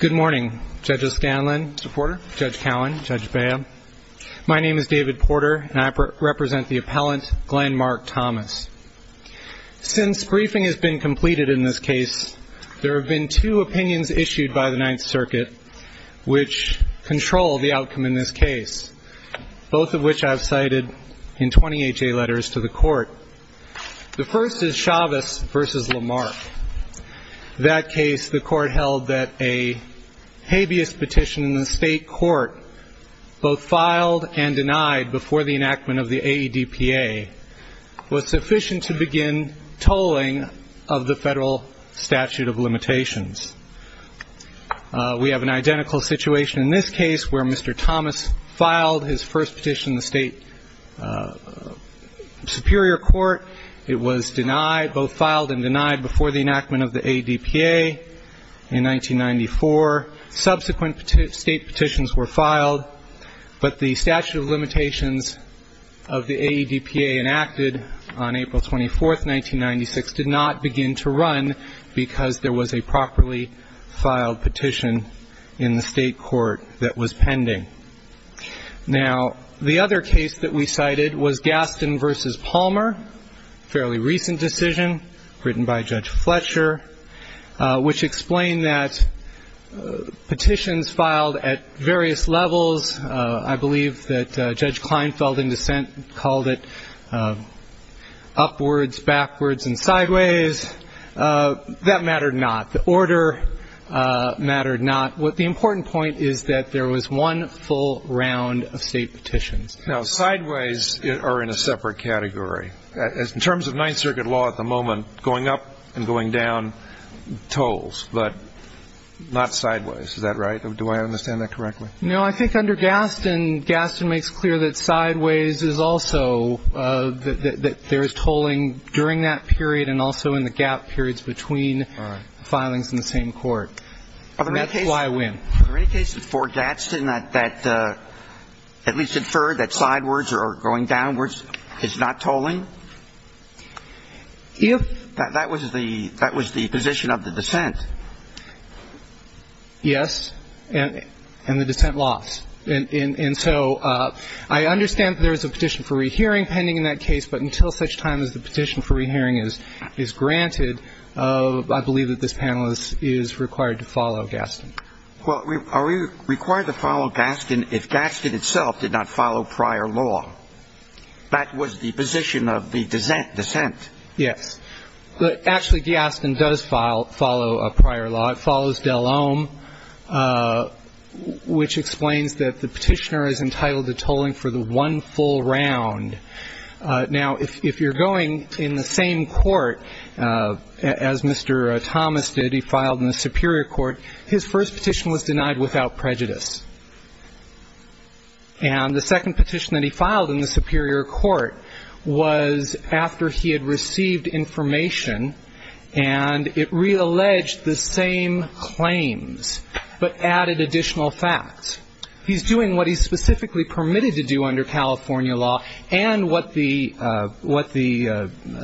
Good morning, Judge O'Scanlan, Judge Porter, Judge Cowan, Judge Beah. My name is David Porter, and I represent the appellant, Glenn Mark Thomas. Since briefing has been completed in this case, there have been two opinions issued by the Ninth Circuit which control the outcome in this case, both of which I have cited in 20HA letters to the Court. The first is Chavez v. Lamarck. In that case, the Court held that a habeas petition in the state court, both filed and denied before the enactment of the AEDPA, was sufficient to begin tolling of the federal statute of limitations. We have an identical situation in this case where Mr. Thomas filed his first petition in the state superior court. It was denied, both filed and denied, before the enactment of the AEDPA in 1994. Subsequent state petitions were filed, but the statute of limitations of the AEDPA enacted on April 24, 1996, did not begin to run because there was a properly filed petition in the state court that was pending. Now, the other case that we cited was Gaston v. Palmer, a fairly recent decision written by Judge Fletcher, which explained that petitions filed at various levels, I believe that Judge Kleinfeld, in dissent, called it upwards, backwards, and sideways. That mattered not. The order mattered not. The important point is that there was one full round of state petitions. Now, sideways are in a separate category. In terms of Ninth Circuit law at the moment, going up and going down tolls, but not sideways. Is that right? Do I understand that correctly? No, I think under Gaston, Gaston makes clear that sideways is also that there is tolling during that period and also in the gap periods between filings in the same court. That's why I win. Are there any cases for Gaston that at least infer that sideways or going downwards is not tolling? That was the position of the dissent. Yes, and the dissent lost. And so I understand there is a petition for rehearing pending in that case, but until such time as the petition for rehearing is granted, I believe that this panelist is required to follow Gaston. Well, are we required to follow Gaston if Gaston itself did not follow prior law? That was the position of the dissent. Yes. Actually, Gaston does follow prior law. It follows Dell-Ohm, which explains that the petitioner is entitled to tolling for the one full round. Now, if you're going in the same court as Mr. Thomas did, he filed in the Superior Court, his first petition was denied without prejudice. And the second petition that he filed in the Superior Court was after he had received information and it realleged the same claims but added additional facts. He's doing what he's specifically permitted to do under California law and what the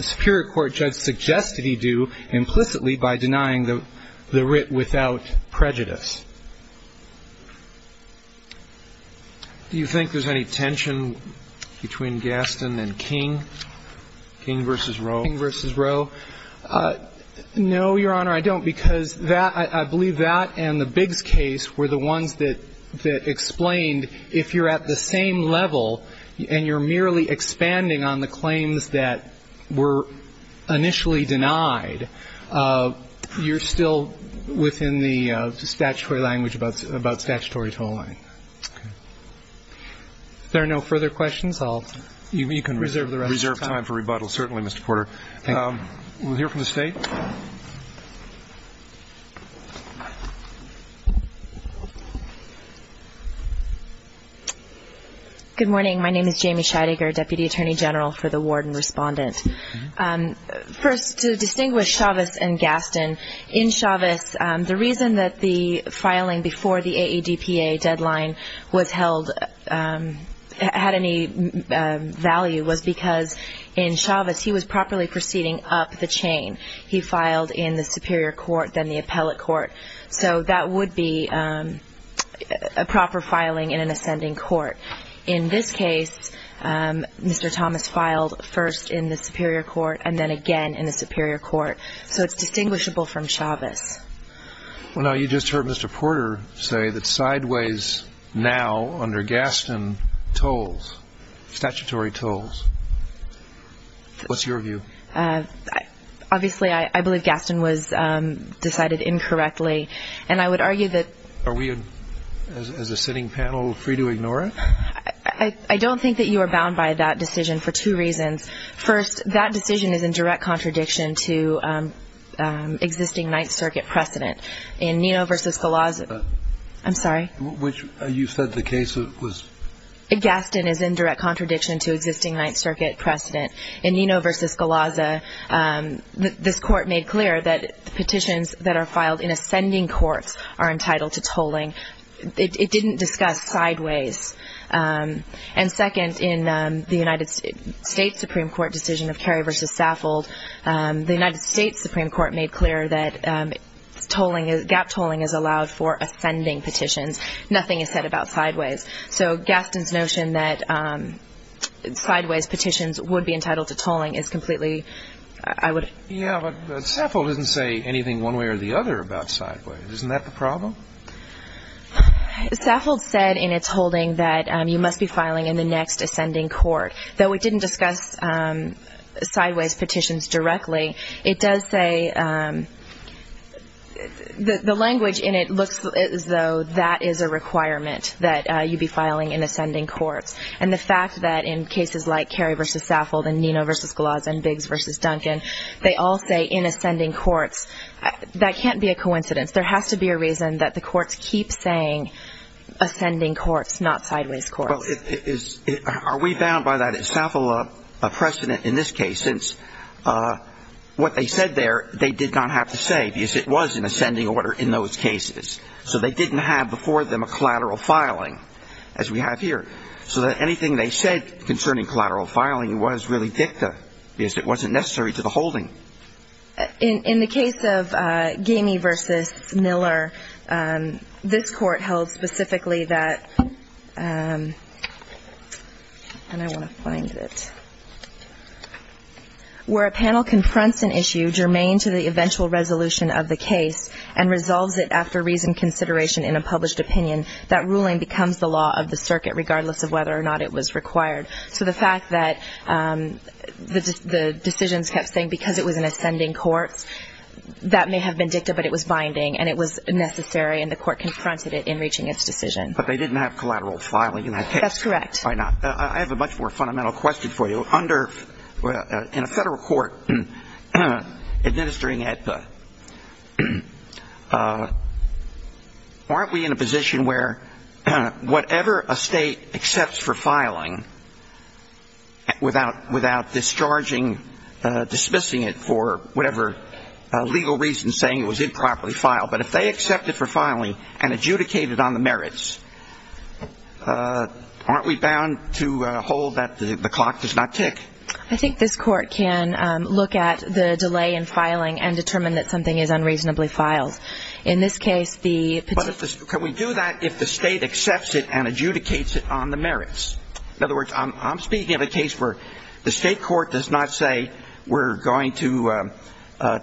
Superior Court judge suggested he do implicitly by denying the writ without prejudice. Do you think there's any tension between Gaston and King, King v. Roe? King v. Roe. No, Your Honor, I don't, because that – I believe that and the Biggs case were the ones that explained if you're at the same level and you're merely expanding on the claims that were initially denied, you're still within the statutory language about statutory tolling. Okay. If there are no further questions, I'll – you can reserve the rest of the time. Reserve time for rebuttal, certainly, Mr. Porter. Thank you. We'll hear from the State. Good morning. My name is Jamie Scheidegger, Deputy Attorney General for the Ward and Respondent. First, to distinguish Chavez and Gaston, in Chavez, the reason that the filing before the AADPA deadline was held – had any value was because in Chavez, he was properly proceeding up the chain. He filed in the Superior Court, then the Appellate Court. So that would be a proper filing in an ascending court. In this case, Mr. Thomas filed first in the Superior Court and then again in the Superior Court. So it's distinguishable from Chavez. Well, now, you just heard Mr. Porter say that sideways now under Gaston tolls, statutory tolls. What's your view? Obviously, I believe Gaston was decided incorrectly. And I would argue that – Are we, as a sitting panel, free to ignore it? I don't think that you are bound by that decision for two reasons. First, that decision is in direct contradiction to existing Ninth Circuit precedent. In Nino v. Scalaza – I'm sorry? You said the case was – Gaston is in direct contradiction to existing Ninth Circuit precedent. In Nino v. Scalaza, this Court made clear that petitions that are filed in ascending courts are entitled to tolling. It didn't discuss sideways. And second, in the United States Supreme Court decision of Kerry v. Saffold, the United States Supreme Court made clear that gap tolling is allowed for ascending petitions. Nothing is said about sideways. So Gaston's notion that sideways petitions would be entitled to tolling is completely – I would – Yeah, but Saffold didn't say anything one way or the other about sideways. Isn't that the problem? Saffold said in its holding that you must be filing in the next ascending court. Though it didn't discuss sideways petitions directly, it does say – the language in it looks as though that is a requirement that you be filing in ascending courts. And the fact that in cases like Kerry v. Saffold and Nino v. Scalaza and Biggs v. Duncan, they all say in ascending courts, that can't be a coincidence. There has to be a reason that the courts keep saying ascending courts, not sideways courts. Well, are we bound by that? Is Saffold a precedent in this case since what they said there they did not have to say because it was in ascending order in those cases. So they didn't have before them a collateral filing as we have here. So that anything they said concerning collateral filing was really dicta because it wasn't necessary to the holding. In the case of Gamey v. Miller, this court held specifically that – and I want to find it – where a panel confronts an issue germane to the eventual resolution of the case and resolves it after reasoned consideration in a published opinion, that ruling becomes the law of the circuit regardless of whether or not it was required. So the fact that the decisions kept saying because it was in ascending courts, that may have been dicta but it was binding and it was necessary and the court confronted it in reaching its decision. But they didn't have collateral filing in that case. That's correct. I have a much more fundamental question for you. In a federal court administering ADPA, aren't we in a position where whatever a state accepts for filing without discharging, dismissing it for whatever legal reason saying it was improperly filed, but if they accept it for filing and adjudicate it on the merits, aren't we bound to hold that the clock does not tick? I think this court can look at the delay in filing and determine that something is unreasonably filed. In this case, the petition… But can we do that if the state accepts it and adjudicates it on the merits? In other words, I'm speaking of a case where the state court does not say we're going to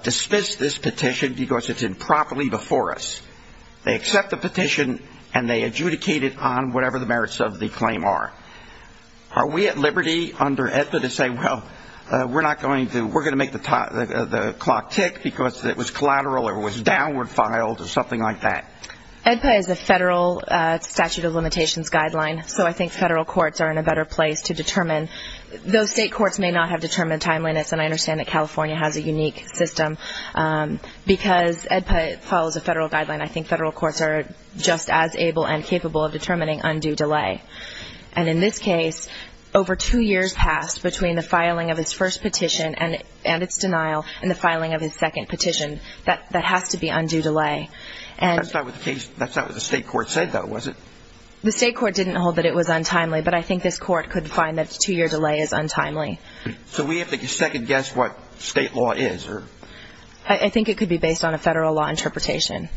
dismiss this petition because it's improperly before us. They accept the petition and they adjudicate it on whatever the merits of the claim are. Are we at liberty under ADPA to say, well, we're going to make the clock tick because it was collateral or it was downward filed or something like that? ADPA is a federal statute of limitations guideline, so I think federal courts are in a better place to determine. Those state courts may not have determined timeliness and I understand that California has a unique system because ADPA follows a federal guideline. I think federal courts are just as able and capable of determining undue delay. And in this case, over two years passed between the filing of its first petition and its denial and the filing of its second petition. That has to be undue delay. That's not what the state court said, though, was it? The state court didn't hold that it was untimely, but I think this court could find that a two-year delay is untimely. So we have to second-guess what state law is? I think it could be based on a federal law interpretation.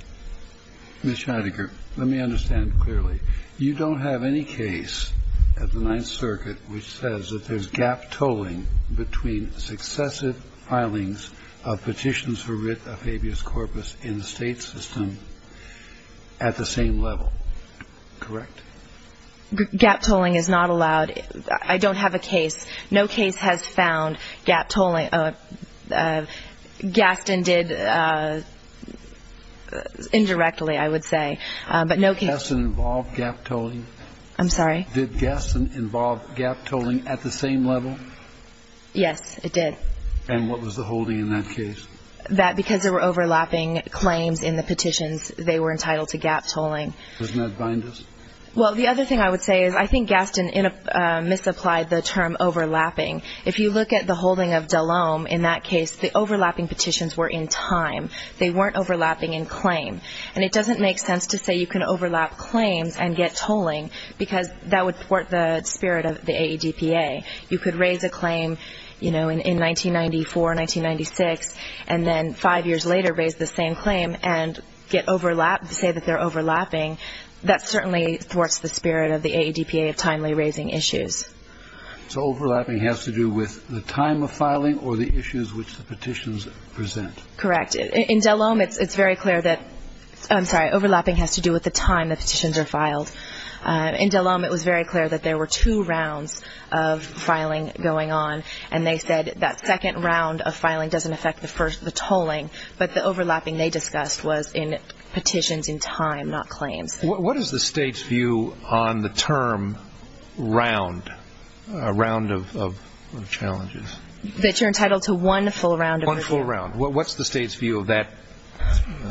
Ms. Shidegar, let me understand clearly. You don't have any case at the Ninth Circuit which says that there's gap tolling between successive filings of petitions for writ of habeas corpus in the state system at the same level, correct? Gap tolling is not allowed. I don't have a case. No case has found gap tolling. Gaston did indirectly, I would say. But no case ---- Did Gaston involve gap tolling? I'm sorry? Did Gaston involve gap tolling at the same level? Yes, it did. And what was the holding in that case? That because there were overlapping claims in the petitions, they were entitled to gap tolling. Doesn't that bind us? Well, the other thing I would say is I think Gaston misapplied the term overlapping. If you look at the holding of DeLombe in that case, the overlapping petitions were in time. They weren't overlapping in claim. And it doesn't make sense to say you can overlap claims and get tolling because that would thwart the spirit of the AEDPA. You could raise a claim, you know, in 1994, 1996, and then five years later raise the same claim and say that they're overlapping, that certainly thwarts the spirit of the AEDPA of timely raising issues. So overlapping has to do with the time of filing or the issues which the petitions present? Correct. In DeLombe, it's very clear that ---- I'm sorry, overlapping has to do with the time the petitions are filed. In DeLombe, it was very clear that there were two rounds of filing going on, and they said that second round of filing doesn't affect the first, the tolling, but the overlapping they discussed was in petitions in time, not claims. What is the state's view on the term round, round of challenges? That you're entitled to one full round. One full round. What's the state's view of that?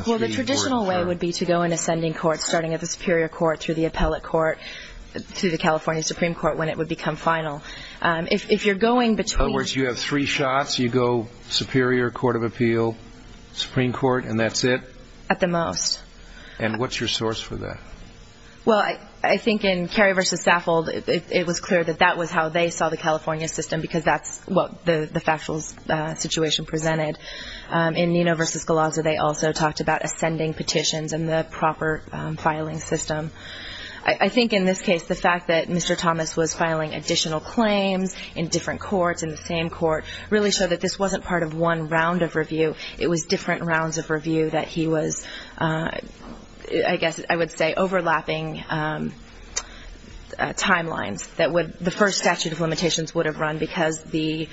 Well, the traditional way would be to go in ascending court starting at the superior court through the appellate court to the California Supreme Court when it would become final. In other words, you have three shots, you go superior, court of appeal, Supreme Court, and that's it? At the most. And what's your source for that? Well, I think in Carey v. Saffold, it was clear that that was how they saw the California system because that's what the factual situation presented. In Nino v. Galazzo, they also talked about ascending petitions and the proper filing system. I think in this case, the fact that Mr. Thomas was filing additional claims in different courts, in the same court, really showed that this wasn't part of one round of review. It was different rounds of review that he was, I guess I would say, overlapping timelines that the first statute of limitations would have run because the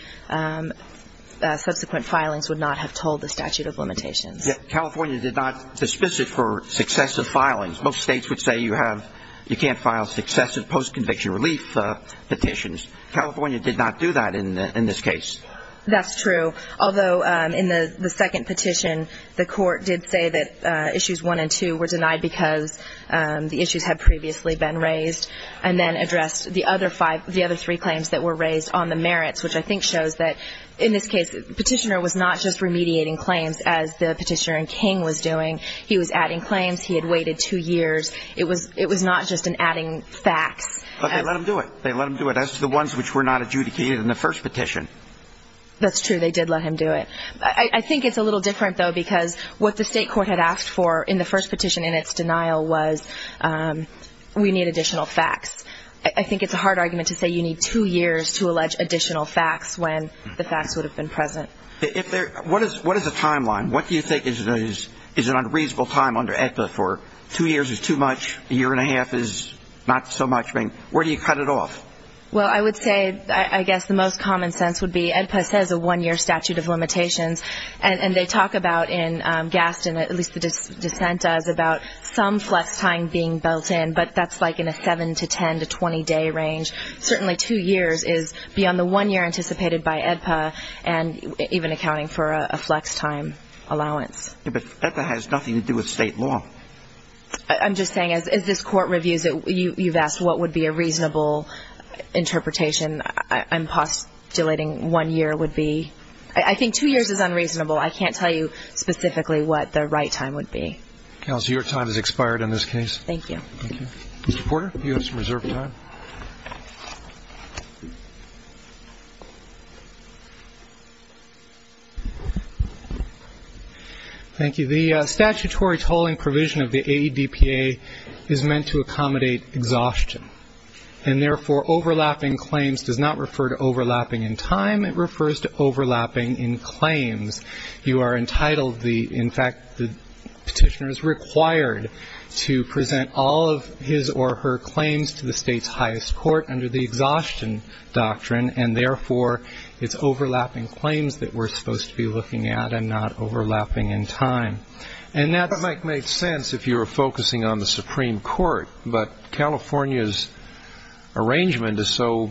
subsequent filings would not have told the statute of limitations. California did not dismiss it for successive filings. Most states would say you can't file successive post-conviction relief petitions. California did not do that in this case. That's true. Although in the second petition, the court did say that issues one and two were denied because the issues had previously been raised and then addressed the other three claims that were raised on the merits, which I think shows that in this case, the petitioner was not just remediating claims as the petitioner in King was doing. He was adding claims. He had waited two years. It was not just an adding facts. But they let him do it. They let him do it. That's the ones which were not adjudicated in the first petition. That's true. They did let him do it. I think it's a little different, though, because what the state court had asked for in the first petition in its denial was we need additional facts. I think it's a hard argument to say you need two years to allege additional facts when the facts would have been present. What is the timeline? What do you think is an unreasonable time under AEDPA for two years is too much, a year and a half is not so much? Where do you cut it off? Well, I would say I guess the most common sense would be AEDPA says a one-year statute of limitations, and they talk about in Gaston, at least the dissent does, about some flex time being built in, but that's like in a seven to ten to 20-day range. Certainly two years is beyond the one year anticipated by AEDPA and even accounting for a flex time allowance. But AEDPA has nothing to do with state law. I'm just saying as this court reviews it, you've asked what would be a reasonable interpretation. I'm postulating one year would be. I think two years is unreasonable. I can't tell you specifically what the right time would be. So your time has expired in this case? Thank you. Thank you. Mr. Porter, you have some reserve time. Thank you. The statutory tolling provision of the AEDPA is meant to accommodate exhaustion, and therefore overlapping claims does not refer to overlapping in time. It refers to overlapping in claims. You are entitled, in fact, the petitioner is required to present all of his or her claims to the state's highest court under the exhaustion doctrine, and therefore it's overlapping claims that we're supposed to be looking at and not overlapping in time. And that might make sense if you were focusing on the Supreme Court, but California's arrangement is so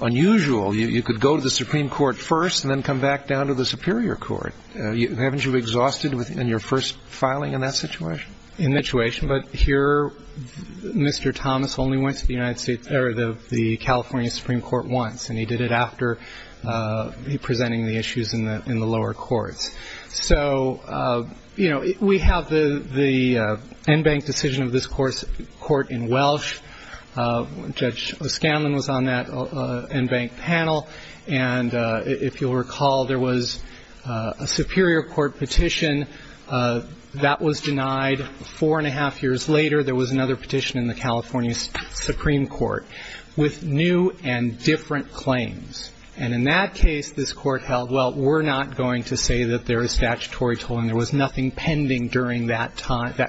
unusual you could go to the Supreme Court first and then come back down to the superior court. Haven't you exhausted in your first filing in that situation? In that situation. But here Mr. Thomas only went to the United States or the California Supreme Court once, and he did it after presenting the issues in the lower courts. So, you know, we have the en banc decision of this court in Welsh. Judge O'Scanlan was on that en banc panel. And if you'll recall, there was a superior court petition that was denied. Four and a half years later, there was another petition in the California Supreme Court with new and different claims. And in that case, this court held, well, we're not going to say that there is statutory tolling. There was nothing pending during that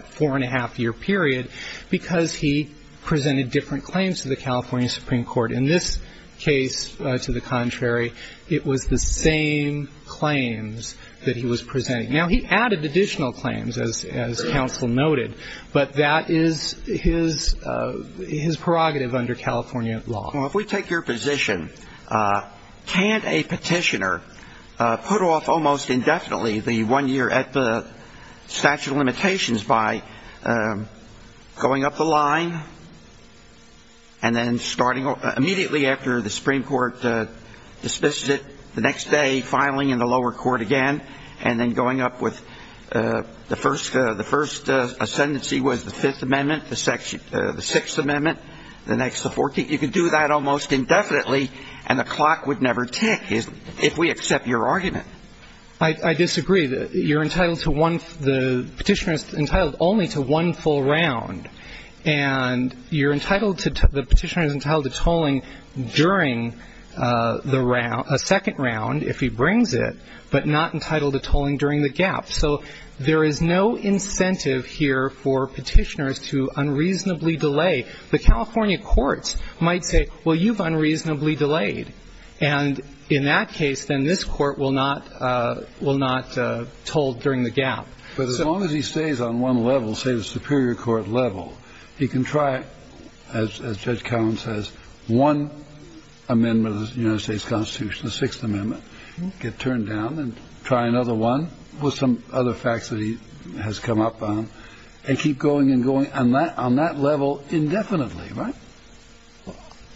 four and a half year period because he presented different claims to the California Supreme Court. In this case, to the contrary, it was the same claims that he was presenting. Now, he added additional claims, as counsel noted, but that is his prerogative under California law. Well, if we take your position, can't a petitioner put off almost indefinitely the one year at the statute of limitations by going up the line and then starting immediately after the Supreme Court dismisses it, the next day filing in the lower court again, and then going up with the first ascendancy was the Fifth Amendment, the Sixth Amendment, the next the Fourteenth. You can do that almost indefinitely, and the clock would never tick if we accept your argument. I disagree. You're entitled to one, the petitioner is entitled only to one full round. And you're entitled to, the petitioner is entitled to tolling during the round, a second round if he brings it, but not entitled to tolling during the gap. So there is no incentive here for petitioners to unreasonably delay. The California courts might say, well, you've unreasonably delayed. And in that case, then this court will not toll during the gap. But as long as he stays on one level, say the Superior Court level, he can try, as Judge Cowen says, one amendment of the United States Constitution, the Sixth Amendment, get turned down and try another one with some other facts that he has come up on and keep going and going on that level indefinitely, right?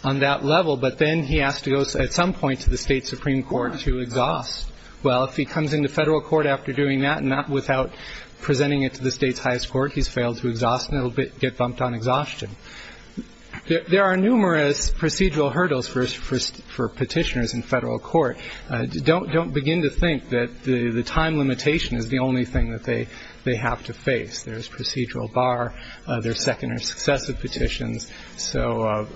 On that level, but then he has to go at some point to the State Supreme Court to exhaust. Well, if he comes into federal court after doing that, and not without presenting it to the state's highest court, he's failed to exhaust and it will get bumped on exhaustion. There are numerous procedural hurdles for petitioners in federal court. Don't begin to think that the time limitation is the only thing that they have to face. There's procedural bar. There's second or successive petitions. So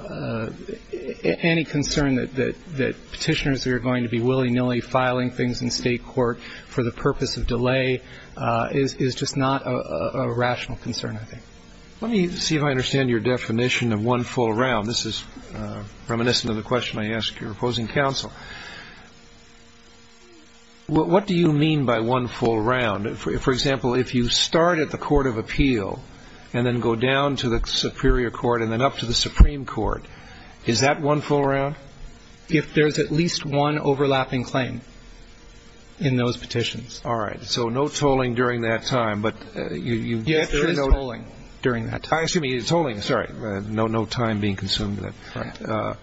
any concern that petitioners are going to be willy-nilly filing things in state court for the purpose of delay is just not a rational concern, I think. Let me see if I understand your definition of one full round. This is reminiscent of the question I asked your opposing counsel. What do you mean by one full round? For example, if you start at the court of appeal and then go down to the superior court and then up to the Supreme Court, is that one full round? If there's at least one overlapping claim in those petitions. All right. So no tolling during that time, but you get to know. Yes, there is tolling during that time. Excuse me, tolling. Sorry. No time being consumed. Right.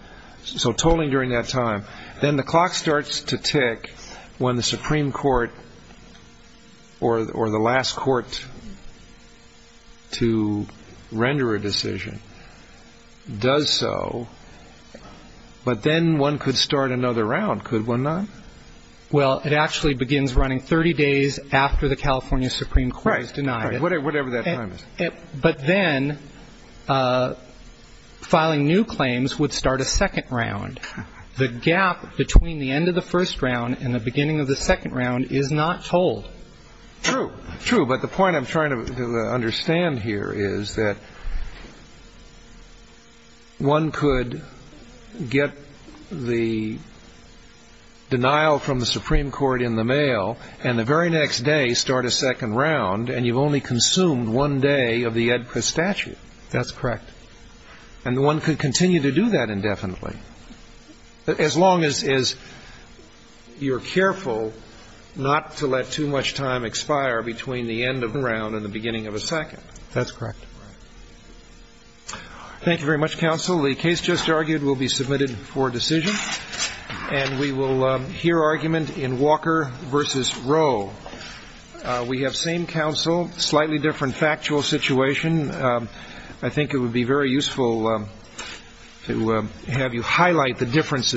So tolling during that time. Then the clock starts to tick when the Supreme Court or the last court to render a decision does so, but then one could start another round, could one not? Well, it actually begins running 30 days after the California Supreme Court has denied it. Right. Whatever that time is. But then filing new claims would start a second round. The gap between the end of the first round and the beginning of the second round is not tolled. True. True. But the point I'm trying to understand here is that one could get the denial from the Supreme Court in the mail and the very next day start a second round, and you've only consumed one day of the statute. That's correct. And one could continue to do that indefinitely. As long as you're careful not to let too much time expire between the end of the round and the beginning of a second. That's correct. Thank you very much, counsel. The case just argued will be submitted for decision, and we will hear argument in Walker v. Roe. We have same counsel, slightly different factual situation. I think it would be very useful to have you highlight the differences.